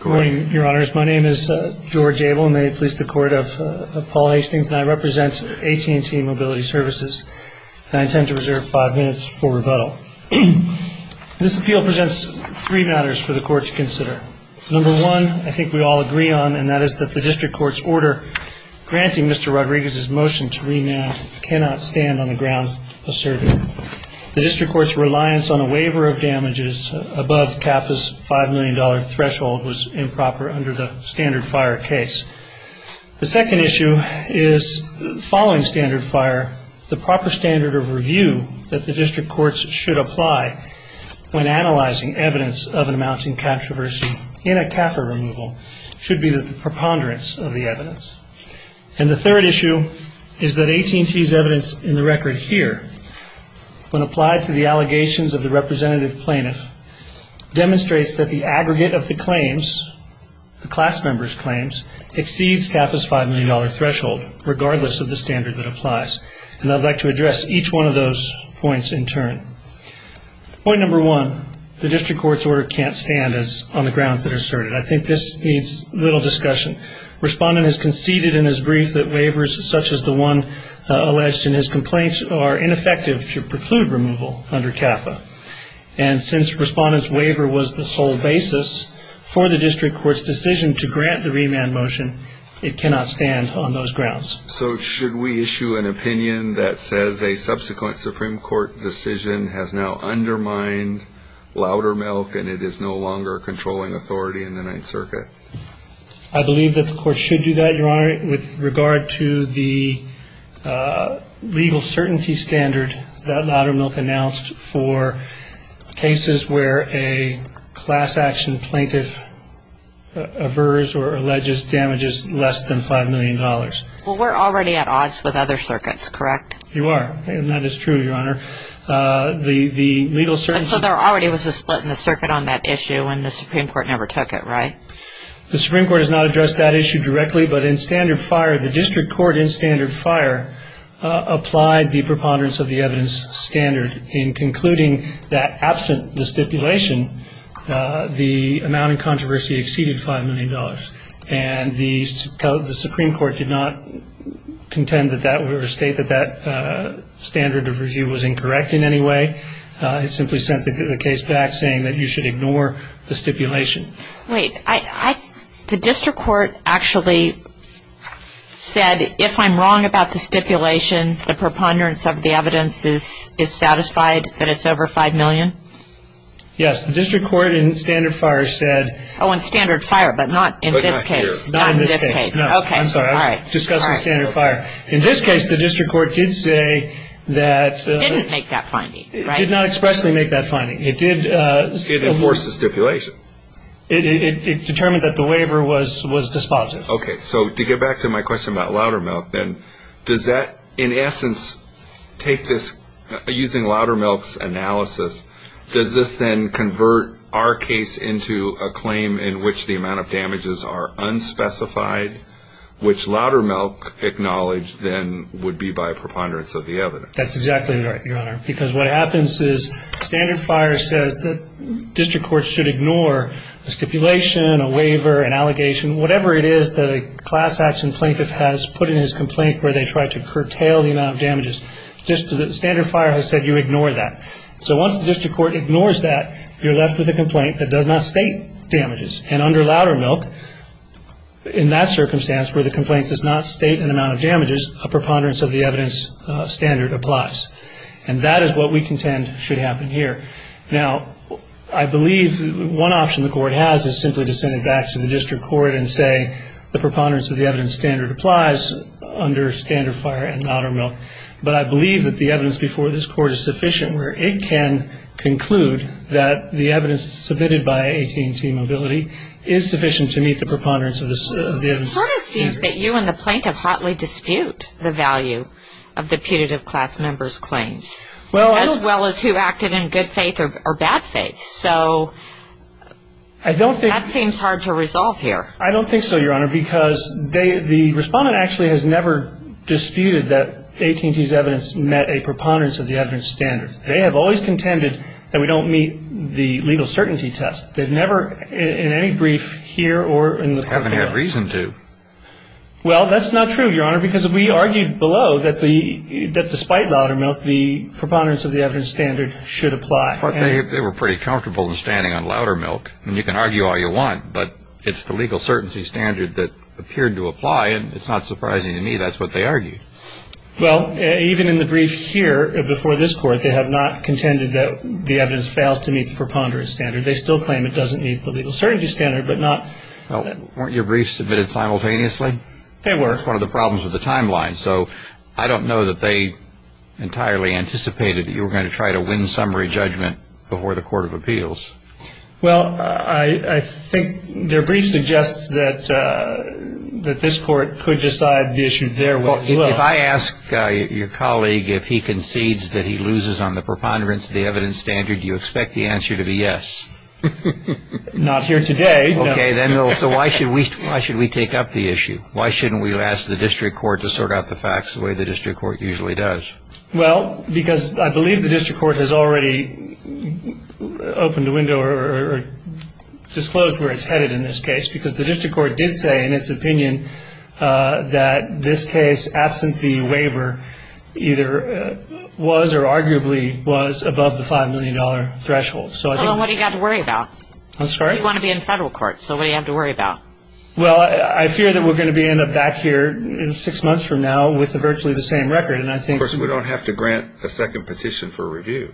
Good morning, Your Honors. My name is George Abel, and may it please the Court of Paul Hastings, and I represent AT&T Mobility Services, and I intend to reserve five minutes for rebuttal. This appeal presents three matters for the Court to consider. Number one, I think we all agree on, and that is that the District Court's order granting Mr. Rodriguez's motion to remand cannot stand on the grounds asserted. The District Court's reliance on a waiver of damages above CAFA's $5 million threshold was improper under the standard fire case. The second issue is, following standard fire, the proper standard of review that the District Courts should apply when analyzing evidence of an amounting controversy in a CAFA removal should be the preponderance of the evidence. And the third issue is that AT&T's evidence in the record here, when applied to the allegations of the representative plaintiff, demonstrates that the aggregate of the claims, the class member's claims, exceeds CAFA's $5 million threshold, regardless of the standard that applies. And I'd like to address each one of those points in turn. Point number one, the District Court's order can't stand on the grounds that are asserted. I think this needs little discussion. Respondent has conceded in his brief that waivers such as the one alleged in his complaint are ineffective to preclude removal under CAFA. And since Respondent's waiver was the sole basis for the District Court's decision to grant the remand motion, it cannot stand on those grounds. So should we issue an opinion that says a subsequent Supreme Court decision has now undermined Loudermilk and it is no longer controlling authority in the Ninth Circuit? I believe that the Court should do that, Your Honor, with regard to the legal certainty standard that Loudermilk announced for cases where a class action plaintiff averts or alleges damages less than $5 million. Well, we're already at odds with other circuits, correct? You are, and that is true, Your Honor. So there already was a split in the circuit on that issue, and the Supreme Court never took it, right? The Supreme Court has not addressed that issue directly, but in standard fire, the District Court in standard fire applied the preponderance of the evidence standard in concluding that absent the stipulation, the amount in controversy exceeded $5 million. And the Supreme Court did not contend with that or state that that standard of review was incorrect in any way. It simply sent the case back saying that you should ignore the stipulation. Wait. The District Court actually said if I'm wrong about the stipulation, the preponderance of the evidence is satisfied that it's over $5 million? Yes. The District Court in standard fire said... Oh, in standard fire, but not in this case. Not in this case. Not in this case. Okay. I'm sorry. I was discussing standard fire. In this case, the District Court did say that... Didn't make that finding, right? Did not expressly make that finding. It did... It determined that the waiver was dispositive. Okay. So to get back to my question about Loudermilk, then, does that in essence take this... Using Loudermilk's analysis, does this then convert our case into a claim in which the amount of damages are unspecified, which Loudermilk acknowledged then would be by preponderance of the evidence? That's exactly right, Your Honor. Because what happens is standard fire says that district courts should ignore a stipulation, a waiver, an allegation, whatever it is that a class action plaintiff has put in his complaint where they try to curtail the amount of damages. Standard fire has said you ignore that. So once the district court ignores that, you're left with a complaint that does not state damages. And under Loudermilk, in that circumstance where the complaint does not state an amount of damages, a preponderance of the evidence standard applies. And that is what we contend should happen here. Now, I believe one option the court has is simply to send it back to the district court and say the preponderance of the evidence standard applies under standard fire and Loudermilk. But I believe that the evidence before this court is sufficient where it can conclude that the evidence submitted by AT&T Mobility is sufficient to meet the preponderance of the evidence standard. It sort of seems that you and the plaintiff hotly dispute the value of the putative class member's claims, as well as who acted in good faith or bad faith. So that seems hard to resolve here. I don't think so, Your Honor, because the respondent actually has never disputed that AT&T's evidence met a preponderance of the evidence standard. They have always contended that we don't meet the legal certainty test. They've never in any brief here or in the court there. They haven't had reason to. Well, that's not true, Your Honor, because we argued below that despite Loudermilk, the preponderance of the evidence standard should apply. But they were pretty comfortable in standing on Loudermilk, and you can argue all you want, but it's the legal certainty standard that appeared to apply, and it's not surprising to me that's what they argued. Well, even in the brief here before this court, they have not contended that the evidence fails to meet the preponderance standard. They still claim it doesn't meet the legal certainty standard, but not. Well, weren't your briefs submitted simultaneously? They were. That's one of the problems with the timeline. So I don't know that they entirely anticipated that you were going to try to win summary judgment before the court of appeals. Well, I think their brief suggests that this court could decide the issue their way. Well, if I ask your colleague if he concedes that he loses on the preponderance of the evidence standard, do you expect the answer to be yes? Not here today, no. Okay. So why should we take up the issue? Why shouldn't we ask the district court to sort out the facts the way the district court usually does? Well, because I believe the district court has already opened a window or disclosed where it's headed in this case, because the district court did say in its opinion that this case, absent the waiver, either was or arguably was above the $5 million threshold. So what have you got to worry about? I'm sorry? You want to be in federal court, so what do you have to worry about? Well, I fear that we're going to end up back here six months from now with virtually the same record. Of course, we don't have to grant a second petition for review.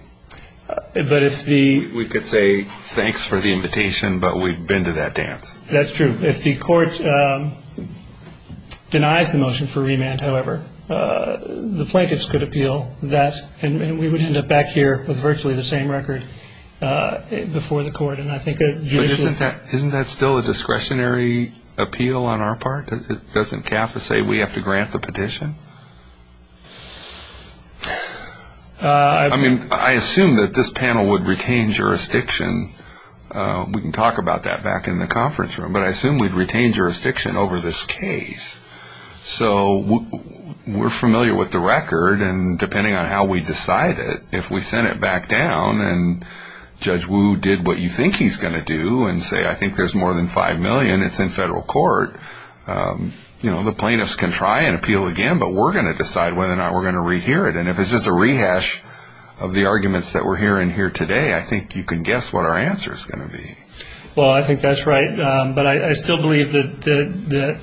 We could say thanks for the invitation, but we've been to that dance. That's true. If the court denies the motion for remand, however, the plaintiffs could appeal that, and we would end up back here with virtually the same record before the court. But isn't that still a discretionary appeal on our part? Doesn't CAFA say we have to grant the petition? I mean, I assume that this panel would retain jurisdiction. We can talk about that back in the conference room, but I assume we'd retain jurisdiction over this case. So we're familiar with the record, and depending on how we decide it, if we send it back down and Judge Wu did what you think he's going to do and say I think there's more than $5 million, it's in federal court, the plaintiffs can try and appeal again, but we're going to decide whether or not we're going to rehear it. And if it's just a rehash of the arguments that we're hearing here today, I think you can guess what our answer is going to be. Well, I think that's right, but I still believe that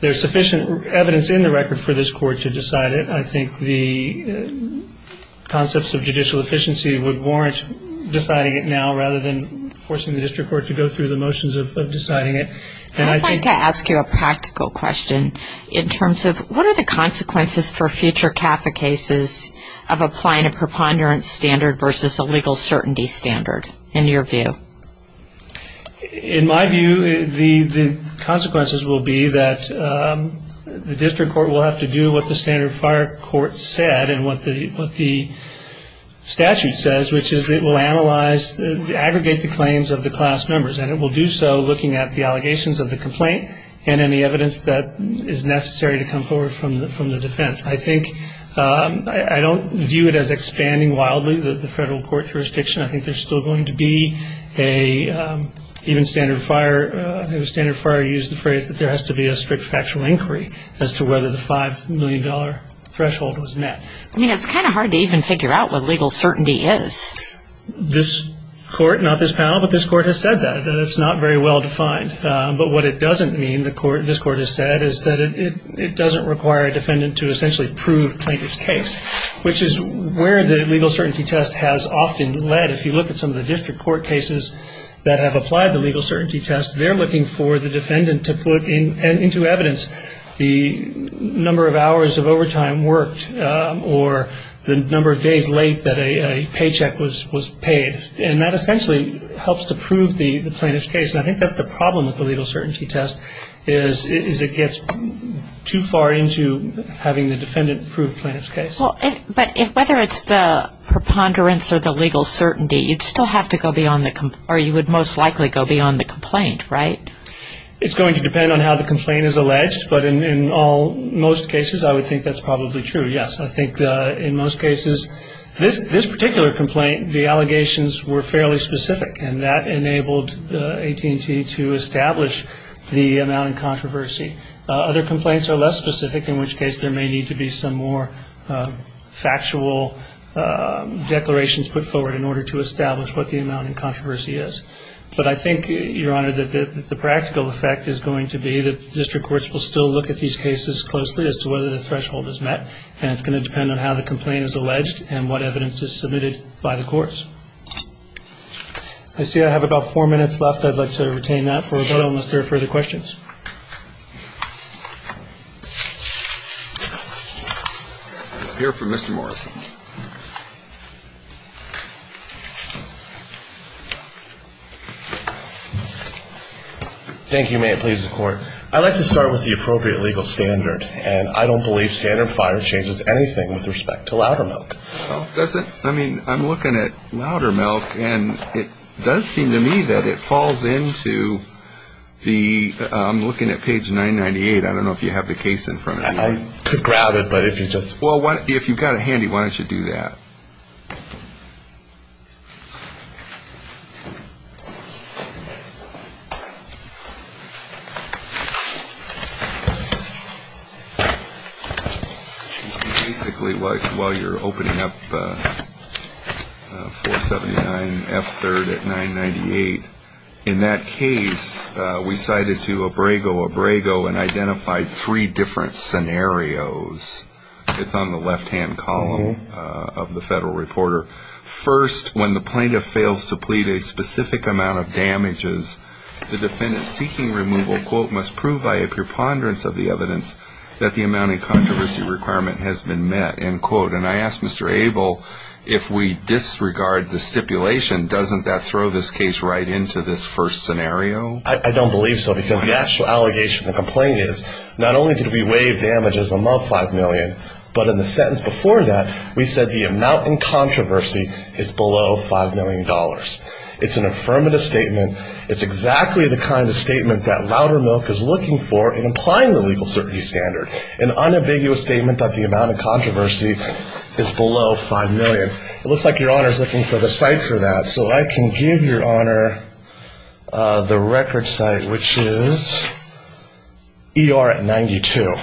there's sufficient evidence in the record for this court to decide it. I think the concepts of judicial efficiency would warrant deciding it now rather than forcing the district court to go through the motions of deciding it. I'd like to ask you a practical question in terms of what are the consequences for future CAFA cases of applying a preponderance standard versus a legal certainty standard in your view? In my view, the consequences will be that the district court will have to do what the standard fire court said and what the statute says, which is it will analyze, aggregate the claims of the class members, and it will do so looking at the allegations of the complaint and any evidence that is necessary to come forward from the defense. I think I don't view it as expanding wildly the federal court jurisdiction. I think there's still going to be a even standard fire, I think the standard fire used the phrase that there has to be a strict factual inquiry as to whether the $5 million threshold was met. I mean, it's kind of hard to even figure out what legal certainty is. This court, not this panel, but this court has said that. It's not very well defined, but what it doesn't mean, is that it doesn't require a defendant to essentially prove plaintiff's case, which is where the legal certainty test has often led. If you look at some of the district court cases that have applied the legal certainty test, they're looking for the defendant to put into evidence the number of hours of overtime worked or the number of days late that a paycheck was paid. And that essentially helps to prove the plaintiff's case. And I think that's the problem with the legal certainty test, is it gets too far into having the defendant prove plaintiff's case. But whether it's the preponderance or the legal certainty, you'd still have to go beyond the, or you would most likely go beyond the complaint, right? It's going to depend on how the complaint is alleged, but in most cases I would think that's probably true, yes. I think in most cases, this particular complaint, the allegations were fairly specific, and that enabled AT&T to establish the amount in controversy. Other complaints are less specific, in which case there may need to be some more factual declarations put forward in order to establish what the amount in controversy is. But I think, Your Honor, that the practical effect is going to be that district courts will still look at these cases closely as to whether the threshold is met, and it's going to depend on how the complaint is alleged and what evidence is submitted by the courts. I see I have about four minutes left. I'd like to retain that for a moment unless there are further questions. We'll hear from Mr. Morris. Thank you. May it please the Court. I'd like to start with the appropriate legal standard, and I don't believe standard FIRE changes anything with respect to Loudermilk. Does it? I mean, I'm looking at Loudermilk, and it does seem to me that it falls into the, I'm looking at page 998, I don't know if you have the case in front of you. I could grab it, but if you just. Basically, while you're opening up 479F3rd at 998, in that case, we cited to Abrego, Abrego and identified three different scenarios. It's on the left-hand column of the Federal Reporter. First, when the plaintiff fails to plead a specific amount of damages, the defendant seeking removal, quote, must prove by a preponderance of the evidence that the amount of controversy requirement has been met, end quote. And I ask Mr. Abel, if we disregard the stipulation, doesn't that throw this case right into this first scenario? I don't believe so, because the actual allegation of the complaint is, not only did we waive damages above $5 million, but in the sentence before that, we said the amount in controversy is below $5 million. It's an affirmative statement. It's exactly the kind of statement that Loudermilk is looking for in applying the legal certainty standard, an unambiguous statement that the amount of controversy is below $5 million. It looks like Your Honor is looking for the site for that, so I can give Your Honor the record site, which is ER at 92.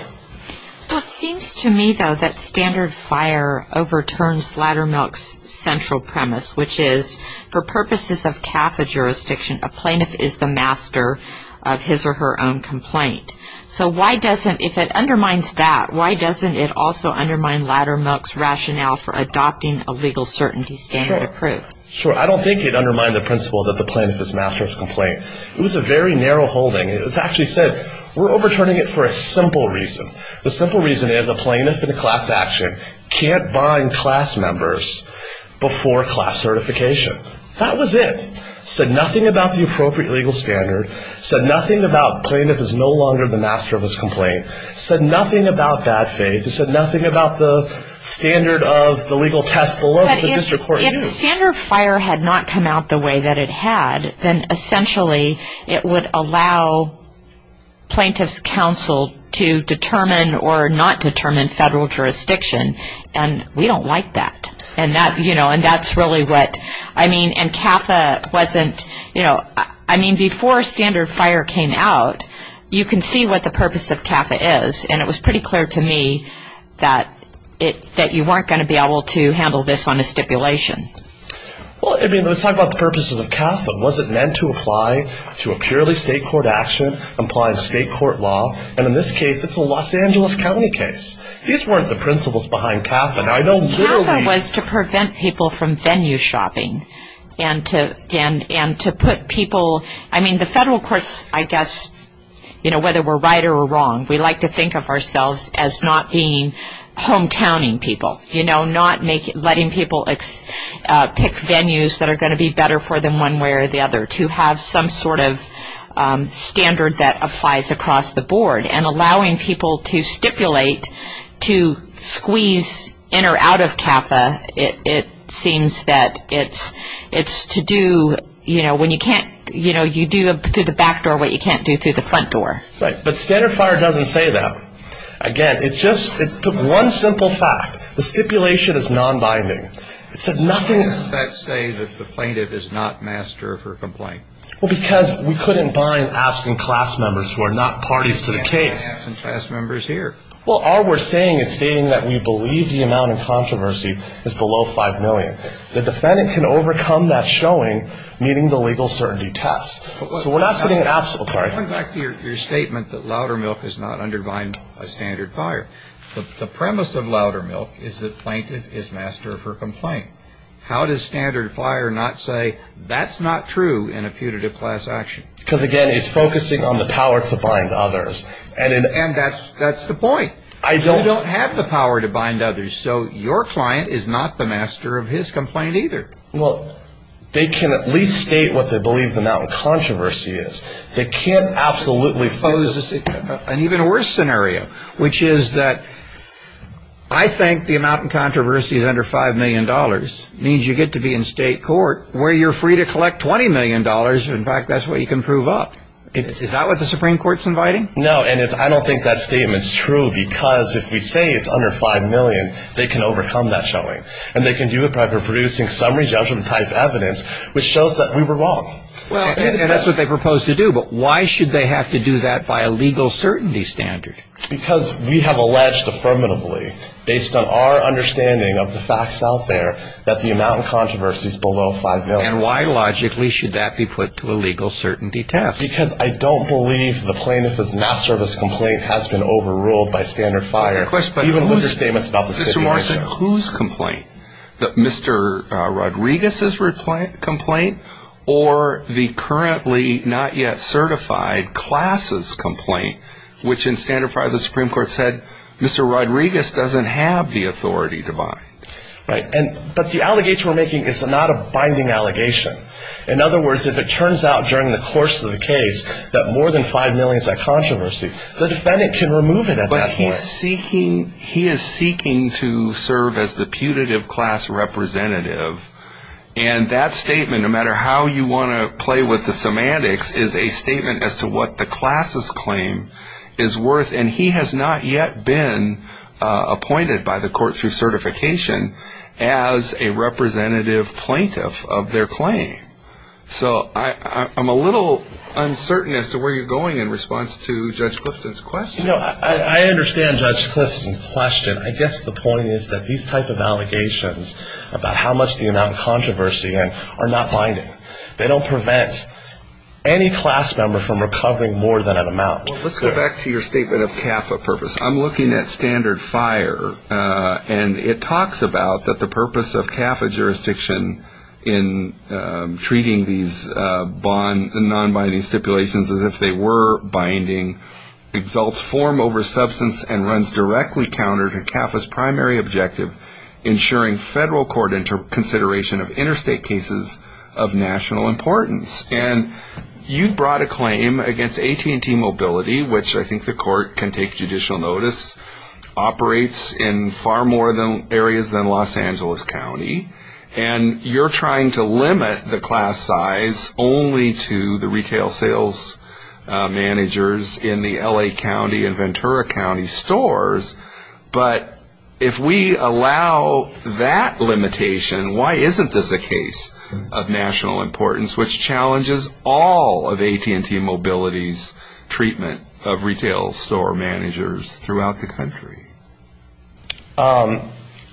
It seems to me, though, that standard fire overturns Loudermilk's central premise, which is, for purposes of CAFA jurisdiction, a plaintiff is the master of his or her own complaint. So why doesn't, if it undermines that, why doesn't it also undermine Loudermilk's rationale for adopting a legal certainty standard approved? Sure. I don't think it undermined the principle that the plaintiff is master of his complaint. It was a very narrow holding. It's actually said we're overturning it for a simple reason. The simple reason is a plaintiff in a class action can't bind class members before class certification. That was it. It said nothing about the appropriate legal standard. It said nothing about plaintiff is no longer the master of his complaint. It said nothing about bad faith. It said nothing about the standard of the legal test below that the district court used. If standard fire had not come out the way that it had, then essentially it would allow plaintiff's counsel to determine or not determine federal jurisdiction. And we don't like that. And that's really what, I mean, and CAFA wasn't, you know, I mean, before standard fire came out, you can see what the purpose of CAFA is. And it was pretty clear to me that you weren't going to be able to handle this on a stipulation. Well, I mean, let's talk about the purposes of CAFA. Was it meant to apply to a purely state court action, apply to state court law? And in this case, it's a Los Angeles County case. These weren't the principles behind CAFA. Now, I know literally- CAFA was to prevent people from venue shopping and to put people, I mean, the federal courts, I guess, you know, whether we're right or we're wrong, we like to think of ourselves as not being hometowning people, you know, not letting people pick venues that are going to be better for them one way or the other, to have some sort of standard that applies across the board. And allowing people to stipulate to squeeze in or out of CAFA, it seems that it's to do, you know, Right, but Standard Fire doesn't say that. Again, it just took one simple fact. The stipulation is non-binding. It said nothing- How does that say that the plaintiff is not master of her complaint? Well, because we couldn't bind absent class members who are not parties to the case. Absent class members here. Well, all we're saying is stating that we believe the amount of controversy is below $5 million. The defendant can overcome that showing meeting the legal certainty test. So we're not saying absolute clarity. Going back to your statement that Loudermilk does not undermine Standard Fire, the premise of Loudermilk is that plaintiff is master of her complaint. How does Standard Fire not say that's not true in a putative class action? Because, again, it's focusing on the power to bind others. And that's the point. I don't- You don't have the power to bind others, so your client is not the master of his complaint either. Well, they can at least state what they believe the amount of controversy is. They can't absolutely state- Well, this is an even worse scenario, which is that I think the amount of controversy is under $5 million. It means you get to be in state court where you're free to collect $20 million. In fact, that's what you can prove up. Is that what the Supreme Court's inviting? No, and I don't think that statement's true, because if we say it's under $5 million, they can overcome that showing. And they can do it by reproducing summary judgment-type evidence, which shows that we were wrong. And that's what they propose to do. But why should they have to do that by a legal certainty standard? Because we have alleged affirmatively, based on our understanding of the facts out there, that the amount of controversy is below $5 million. And why, logically, should that be put to a legal certainty test? Because I don't believe the plaintiff's master of his complaint has been overruled by Standard Fire. Mr. Marston, whose complaint? Mr. Rodriguez's complaint? Or the currently not yet certified class's complaint, which in Standard Fire the Supreme Court said Mr. Rodriguez doesn't have the authority to bind? Right, but the allegation we're making is not a binding allegation. In other words, if it turns out during the course of the case that more than $5 million is a controversy, the defendant can remove it at that point. He is seeking to serve as the putative class representative. And that statement, no matter how you want to play with the semantics, is a statement as to what the class's claim is worth. And he has not yet been appointed by the court through certification as a representative plaintiff of their claim. So I'm a little uncertain as to where you're going in response to Judge Clifton's question. You know, I understand Judge Clifton's question. I guess the point is that these type of allegations about how much the amount of controversy are not binding. They don't prevent any class member from recovering more than an amount. Let's go back to your statement of CAFA purposes. I'm looking at standard fire, and it talks about that the purpose of CAFA jurisdiction in treating these non-binding stipulations as if they were binding, exalts form over substance and runs directly counter to CAFA's primary objective, ensuring federal court consideration of interstate cases of national importance. And you brought a claim against AT&T Mobility, which I think the court can take judicial notice, operates in far more areas than Los Angeles County. And you're trying to limit the class size only to the retail sales managers in the L.A. County and Ventura County stores. But if we allow that limitation, why isn't this a case of national importance, which challenges all of AT&T Mobility's treatment of retail store managers throughout the country?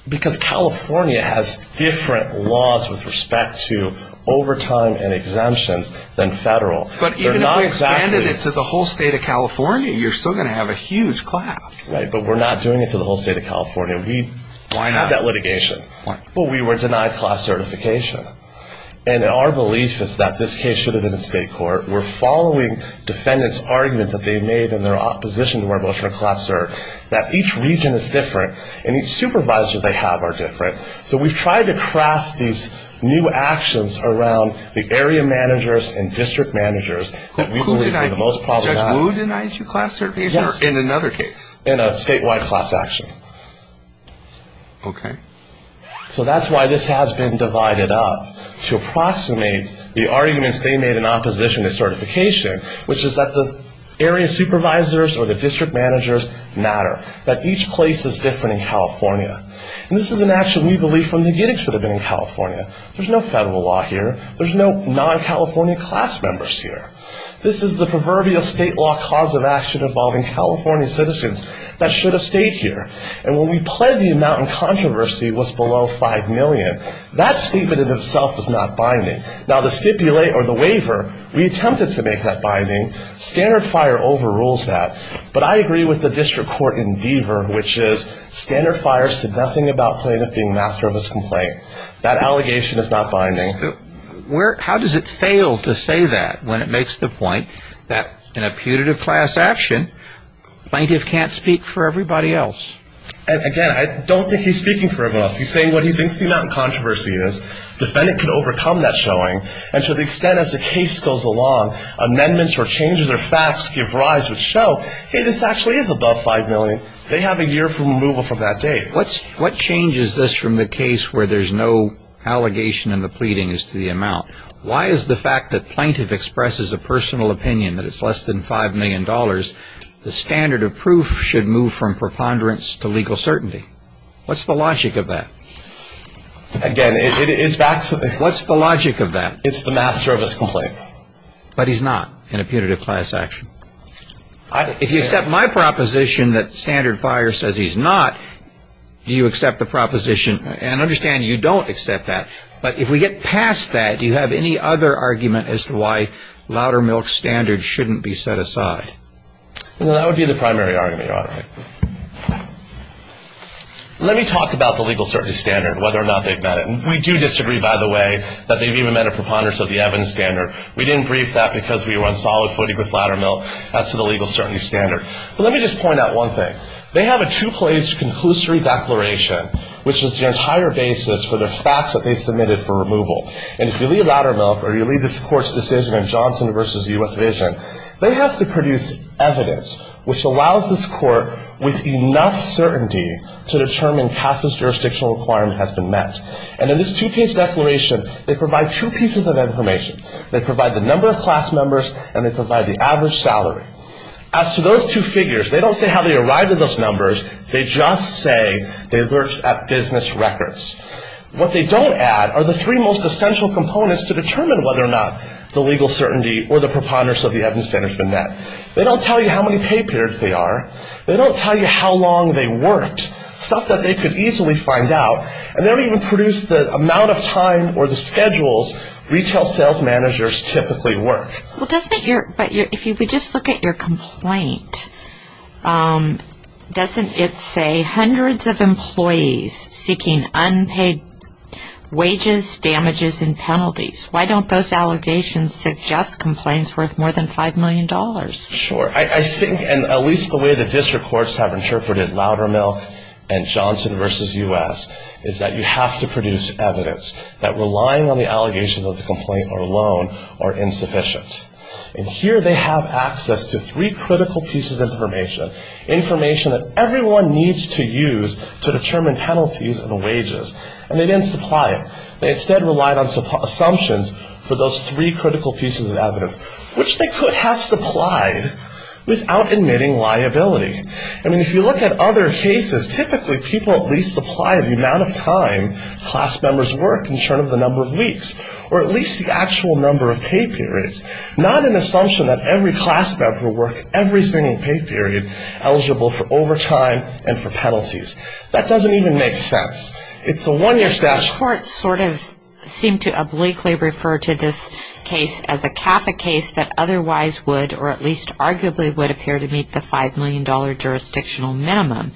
Because California has different laws with respect to overtime and exemptions than federal. But even if we expanded it to the whole state of California, you're still going to have a huge class. Right, but we're not doing it to the whole state of California. We have that litigation. But we were denied class certification. And our belief is that this case should have been in state court. We're following defendants' argument that they made in their opposition to our motion to class cert, that each region is different, and each supervisor they have are different. So we've tried to craft these new actions around the area managers and district managers. Who denies you class certification or in another case? In a statewide class action. Okay. So that's why this has been divided up to approximate the arguments they made in opposition to certification, which is that the area supervisors or the district managers matter, that each place is different in California. And this is an action we believe from the get-go should have been in California. There's no federal law here. There's no non-California class members here. This is the proverbial state law cause of action involving California citizens that should have stayed here. And when we pled the amount in controversy was below 5 million, that statement in itself is not binding. Now, the stipulate or the waiver, we attempted to make that binding. Standard FIRE overrules that. But I agree with the district court in Deaver, which is Standard FIRE said nothing about plaintiff being master of his complaint. That allegation is not binding. How does it fail to say that when it makes the point that in a putative class action, plaintiff can't speak for everybody else? Again, I don't think he's speaking for everybody else. He's saying what he thinks the amount in controversy is. Defendant can overcome that showing. And to the extent as the case goes along, amendments or changes or facts give rise or show, hey, this actually is above 5 million. They have a year for removal from that date. What changes this from the case where there's no allegation and the pleading is to the amount? Why is the fact that plaintiff expresses a personal opinion that it's less than $5 million, the standard of proof should move from preponderance to legal certainty? What's the logic of that? Again, it's back to the – What's the logic of that? It's the master of his complaint. But he's not in a putative class action. If you accept my proposition that standard buyer says he's not, do you accept the proposition? And I understand you don't accept that. But if we get past that, do you have any other argument as to why Loudermilk's standard shouldn't be set aside? Well, that would be the primary argument, Your Honor. Let me talk about the legal certainty standard, whether or not they've met it. And we do disagree, by the way, that they've even met a preponderance of the Evans standard. We didn't brief that because we were on solid footing with Loudermilk as to the legal certainty standard. But let me just point out one thing. They have a two-page conclusory declaration, which is the entire basis for the facts that they submitted for removal. And if you leave Loudermilk or you leave this court's decision on Johnson v. U.S. Vision, they have to produce evidence, which allows this court with enough certainty to determine Katherine's jurisdictional requirement has been met. And in this two-page declaration, they provide two pieces of information. They provide the number of class members and they provide the average salary. As to those two figures, they don't say how they arrived at those numbers. They just say they looked at business records. What they don't add are the three most essential components to determine whether or not the legal certainty or the preponderance of the Evans standard has been met. They don't tell you how many pay periods they are. They don't tell you how long they worked, stuff that they could easily find out. And they don't even produce the amount of time or the schedules retail sales managers typically work. But if you would just look at your complaint, doesn't it say hundreds of employees seeking unpaid wages, damages, and penalties? Why don't those allegations suggest complaints worth more than $5 million? Sure. I think at least the way the district courts have interpreted Loudermilk and Johnson v. U.S. is that you have to produce evidence that relying on the allegations of the complaint alone are insufficient. And here they have access to three critical pieces of information, information that everyone needs to use to determine penalties and wages. And they didn't supply it. They instead relied on assumptions for those three critical pieces of evidence, which they could have supplied without admitting liability. I mean, if you look at other cases, typically people at least supply the amount of time class members work in terms of the number of weeks or at least the actual number of pay periods, not an assumption that every class member worked every single pay period eligible for overtime and for penalties. That doesn't even make sense. It's a one-year statute. The courts sort of seem to obliquely refer to this case as a CAFA case that otherwise would or at least arguably would appear to meet the $5 million jurisdictional minimum.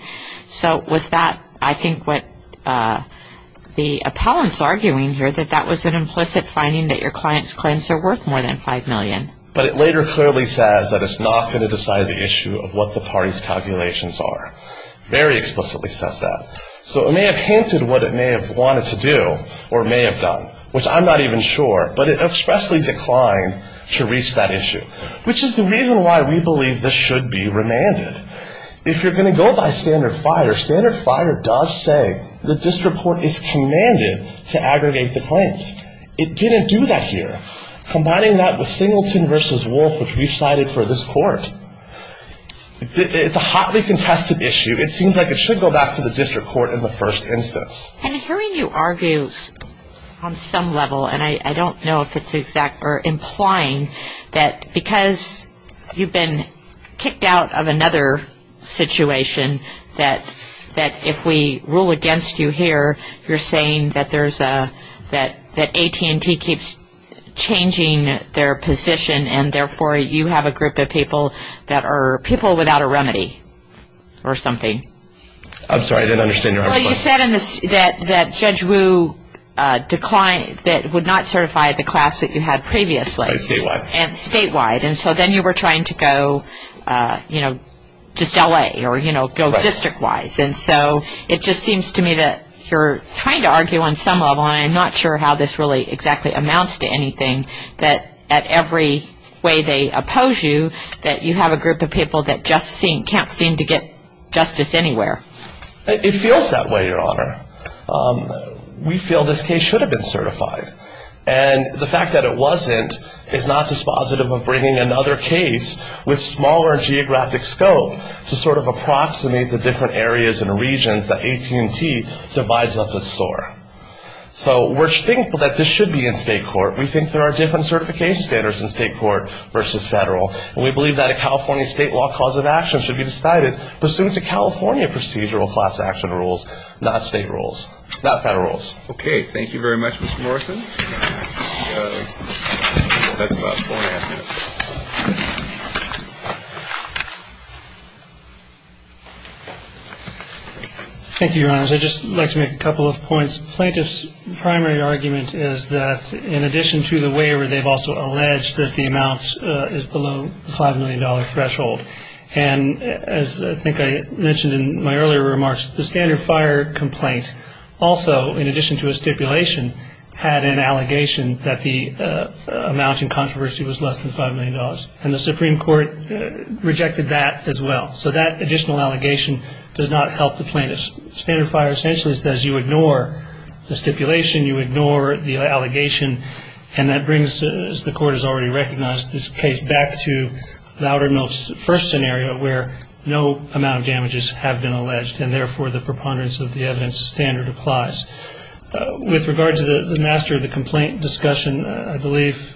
So was that, I think, what the appellant's arguing here, that that was an implicit finding that your client's claims are worth more than $5 million? But it later clearly says that it's not going to decide the issue of what the party's calculations are. Very explicitly says that. So it may have hinted what it may have wanted to do or may have done, which I'm not even sure, but it expressly declined to reach that issue, which is the reason why we believe this should be remanded. If you're going to go by standard FIRE, standard FIRE does say the district court is commanded to aggregate the claims. It didn't do that here. Combining that with Singleton v. Wolfe, which we've cited for this court, it's a hotly contested issue. It seems like it should go back to the district court in the first instance. And hearing you argue on some level, and I don't know if it's exact or implying, that because you've been kicked out of another situation, that if we rule against you here, you're saying that AT&T keeps changing their position and therefore you have a group of people that are people without a remedy or something. I'm sorry, I didn't understand your question. Well, you said that Judge Wu declined, that would not certify the class that you had previously. Statewide. Statewide. And so then you were trying to go, you know, just LA or, you know, go district-wise. And so it just seems to me that you're trying to argue on some level, and I'm not sure how this really exactly amounts to anything, that at every way they oppose you, that you have a group of people that just can't seem to get justice anywhere. It feels that way, Your Honor. We feel this case should have been certified. And the fact that it wasn't is not dispositive of bringing another case with smaller geographic scope to sort of approximate the different areas and regions that AT&T divides up its store. So we think that this should be in state court. We think there are different certification standards in state court versus federal. And we believe that a California state law cause of action should be decided pursuant to California procedural class action rules, not state rules, not federal rules. Okay. Thank you very much, Mr. Morrison. That's about four and a half minutes. Thank you, Your Honors. I'd just like to make a couple of points. Plaintiff's primary argument is that in addition to the waiver, they've also alleged that the amount is below the $5 million threshold. And as I think I mentioned in my earlier remarks, the standard fire complaint also, in addition to a stipulation, had an allegation that the amount in controversy was less than $5 million. And the Supreme Court rejected that as well. So that additional allegation does not help the plaintiff. Standard fire essentially says you ignore the stipulation, you ignore the allegation, and that brings, as the Court has already recognized, this case back to the outer mills first scenario where no amount of damages have been alleged, and therefore the preponderance of the evidence standard applies. With regard to the master of the complaint discussion, I believe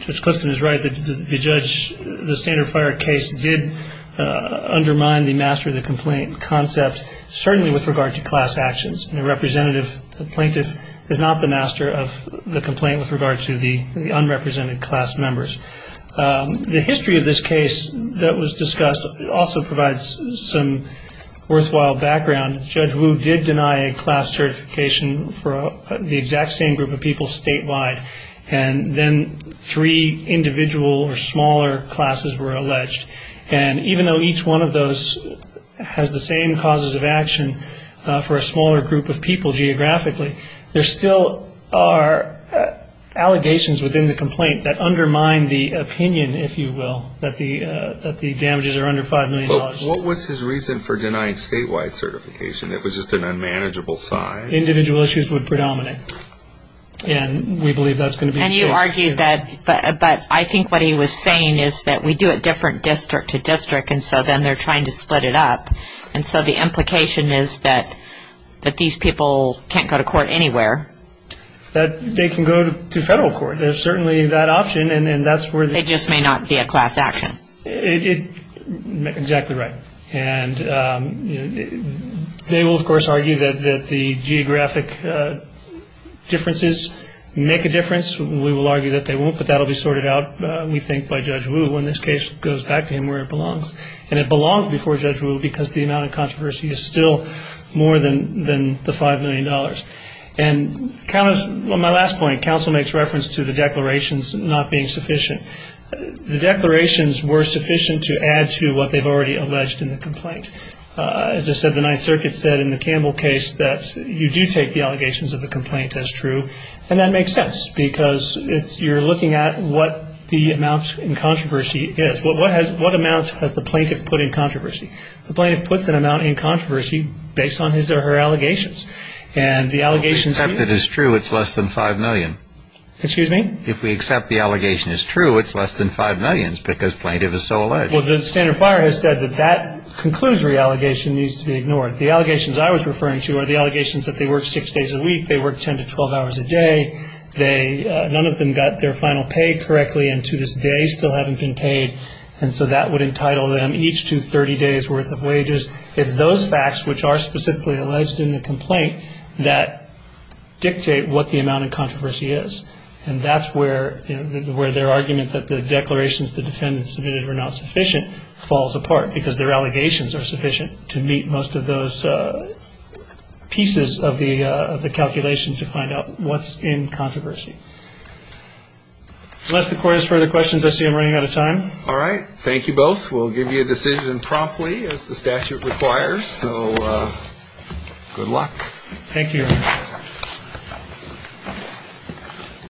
Judge Clifton is right that the standard fire case did undermine the master of the complaint concept, certainly with regard to class actions. A plaintiff is not the master of the complaint with regard to the unrepresented class members. The history of this case that was discussed also provides some worthwhile background. Judge Wu did deny a class certification for the exact same group of people statewide, and then three individual or smaller classes were alleged. And even though each one of those has the same causes of action for a smaller group of people geographically, there still are allegations within the complaint that undermine the opinion, if you will, that the damages are under $5 million. What was his reason for denying statewide certification? It was just an unmanageable size? Individual issues would predominate, and we believe that's going to be the case. And you argue that, but I think what he was saying is that we do it different district to district, and so then they're trying to split it up. And so the implication is that these people can't go to court anywhere. They can go to federal court. There's certainly that option, and that's where the ---- It just may not be a class action. Exactly right. And they will, of course, argue that the geographic differences make a difference. We will argue that they won't, but that will be sorted out, we think, by Judge Wu when this case goes back to him where it belongs. And it belongs before Judge Wu because the amount of controversy is still more than the $5 million. And on my last point, counsel makes reference to the declarations not being sufficient. The declarations were sufficient to add to what they've already alleged in the complaint. As I said, the Ninth Circuit said in the Campbell case that you do take the allegations of the complaint as true, and that makes sense because you're looking at what the amount in controversy is. What amount has the plaintiff put in controversy? The plaintiff puts an amount in controversy based on his or her allegations. And the allegations here ---- If we accept it as true, it's less than $5 million. Excuse me? If we accept the allegation as true, it's less than $5 million because plaintiff is so alleged. Well, the standard fire has said that that conclusory allegation needs to be ignored. The allegations I was referring to are the allegations that they work six days a week, they work 10 to 12 hours a day, none of them got their final pay correctly and to this day still haven't been paid, and so that would entitle them each to 30 days' worth of wages. It's those facts which are specifically alleged in the complaint that dictate what the amount in controversy is. And that's where their argument that the declarations the defendants submitted were not sufficient falls apart because their allegations are sufficient to meet most of those pieces of the calculations to find out what's in controversy. Unless the court has further questions, I see I'm running out of time. All right. Thank you both. We'll give you a decision promptly as the statute requires, so good luck. Thank you, Your Honor.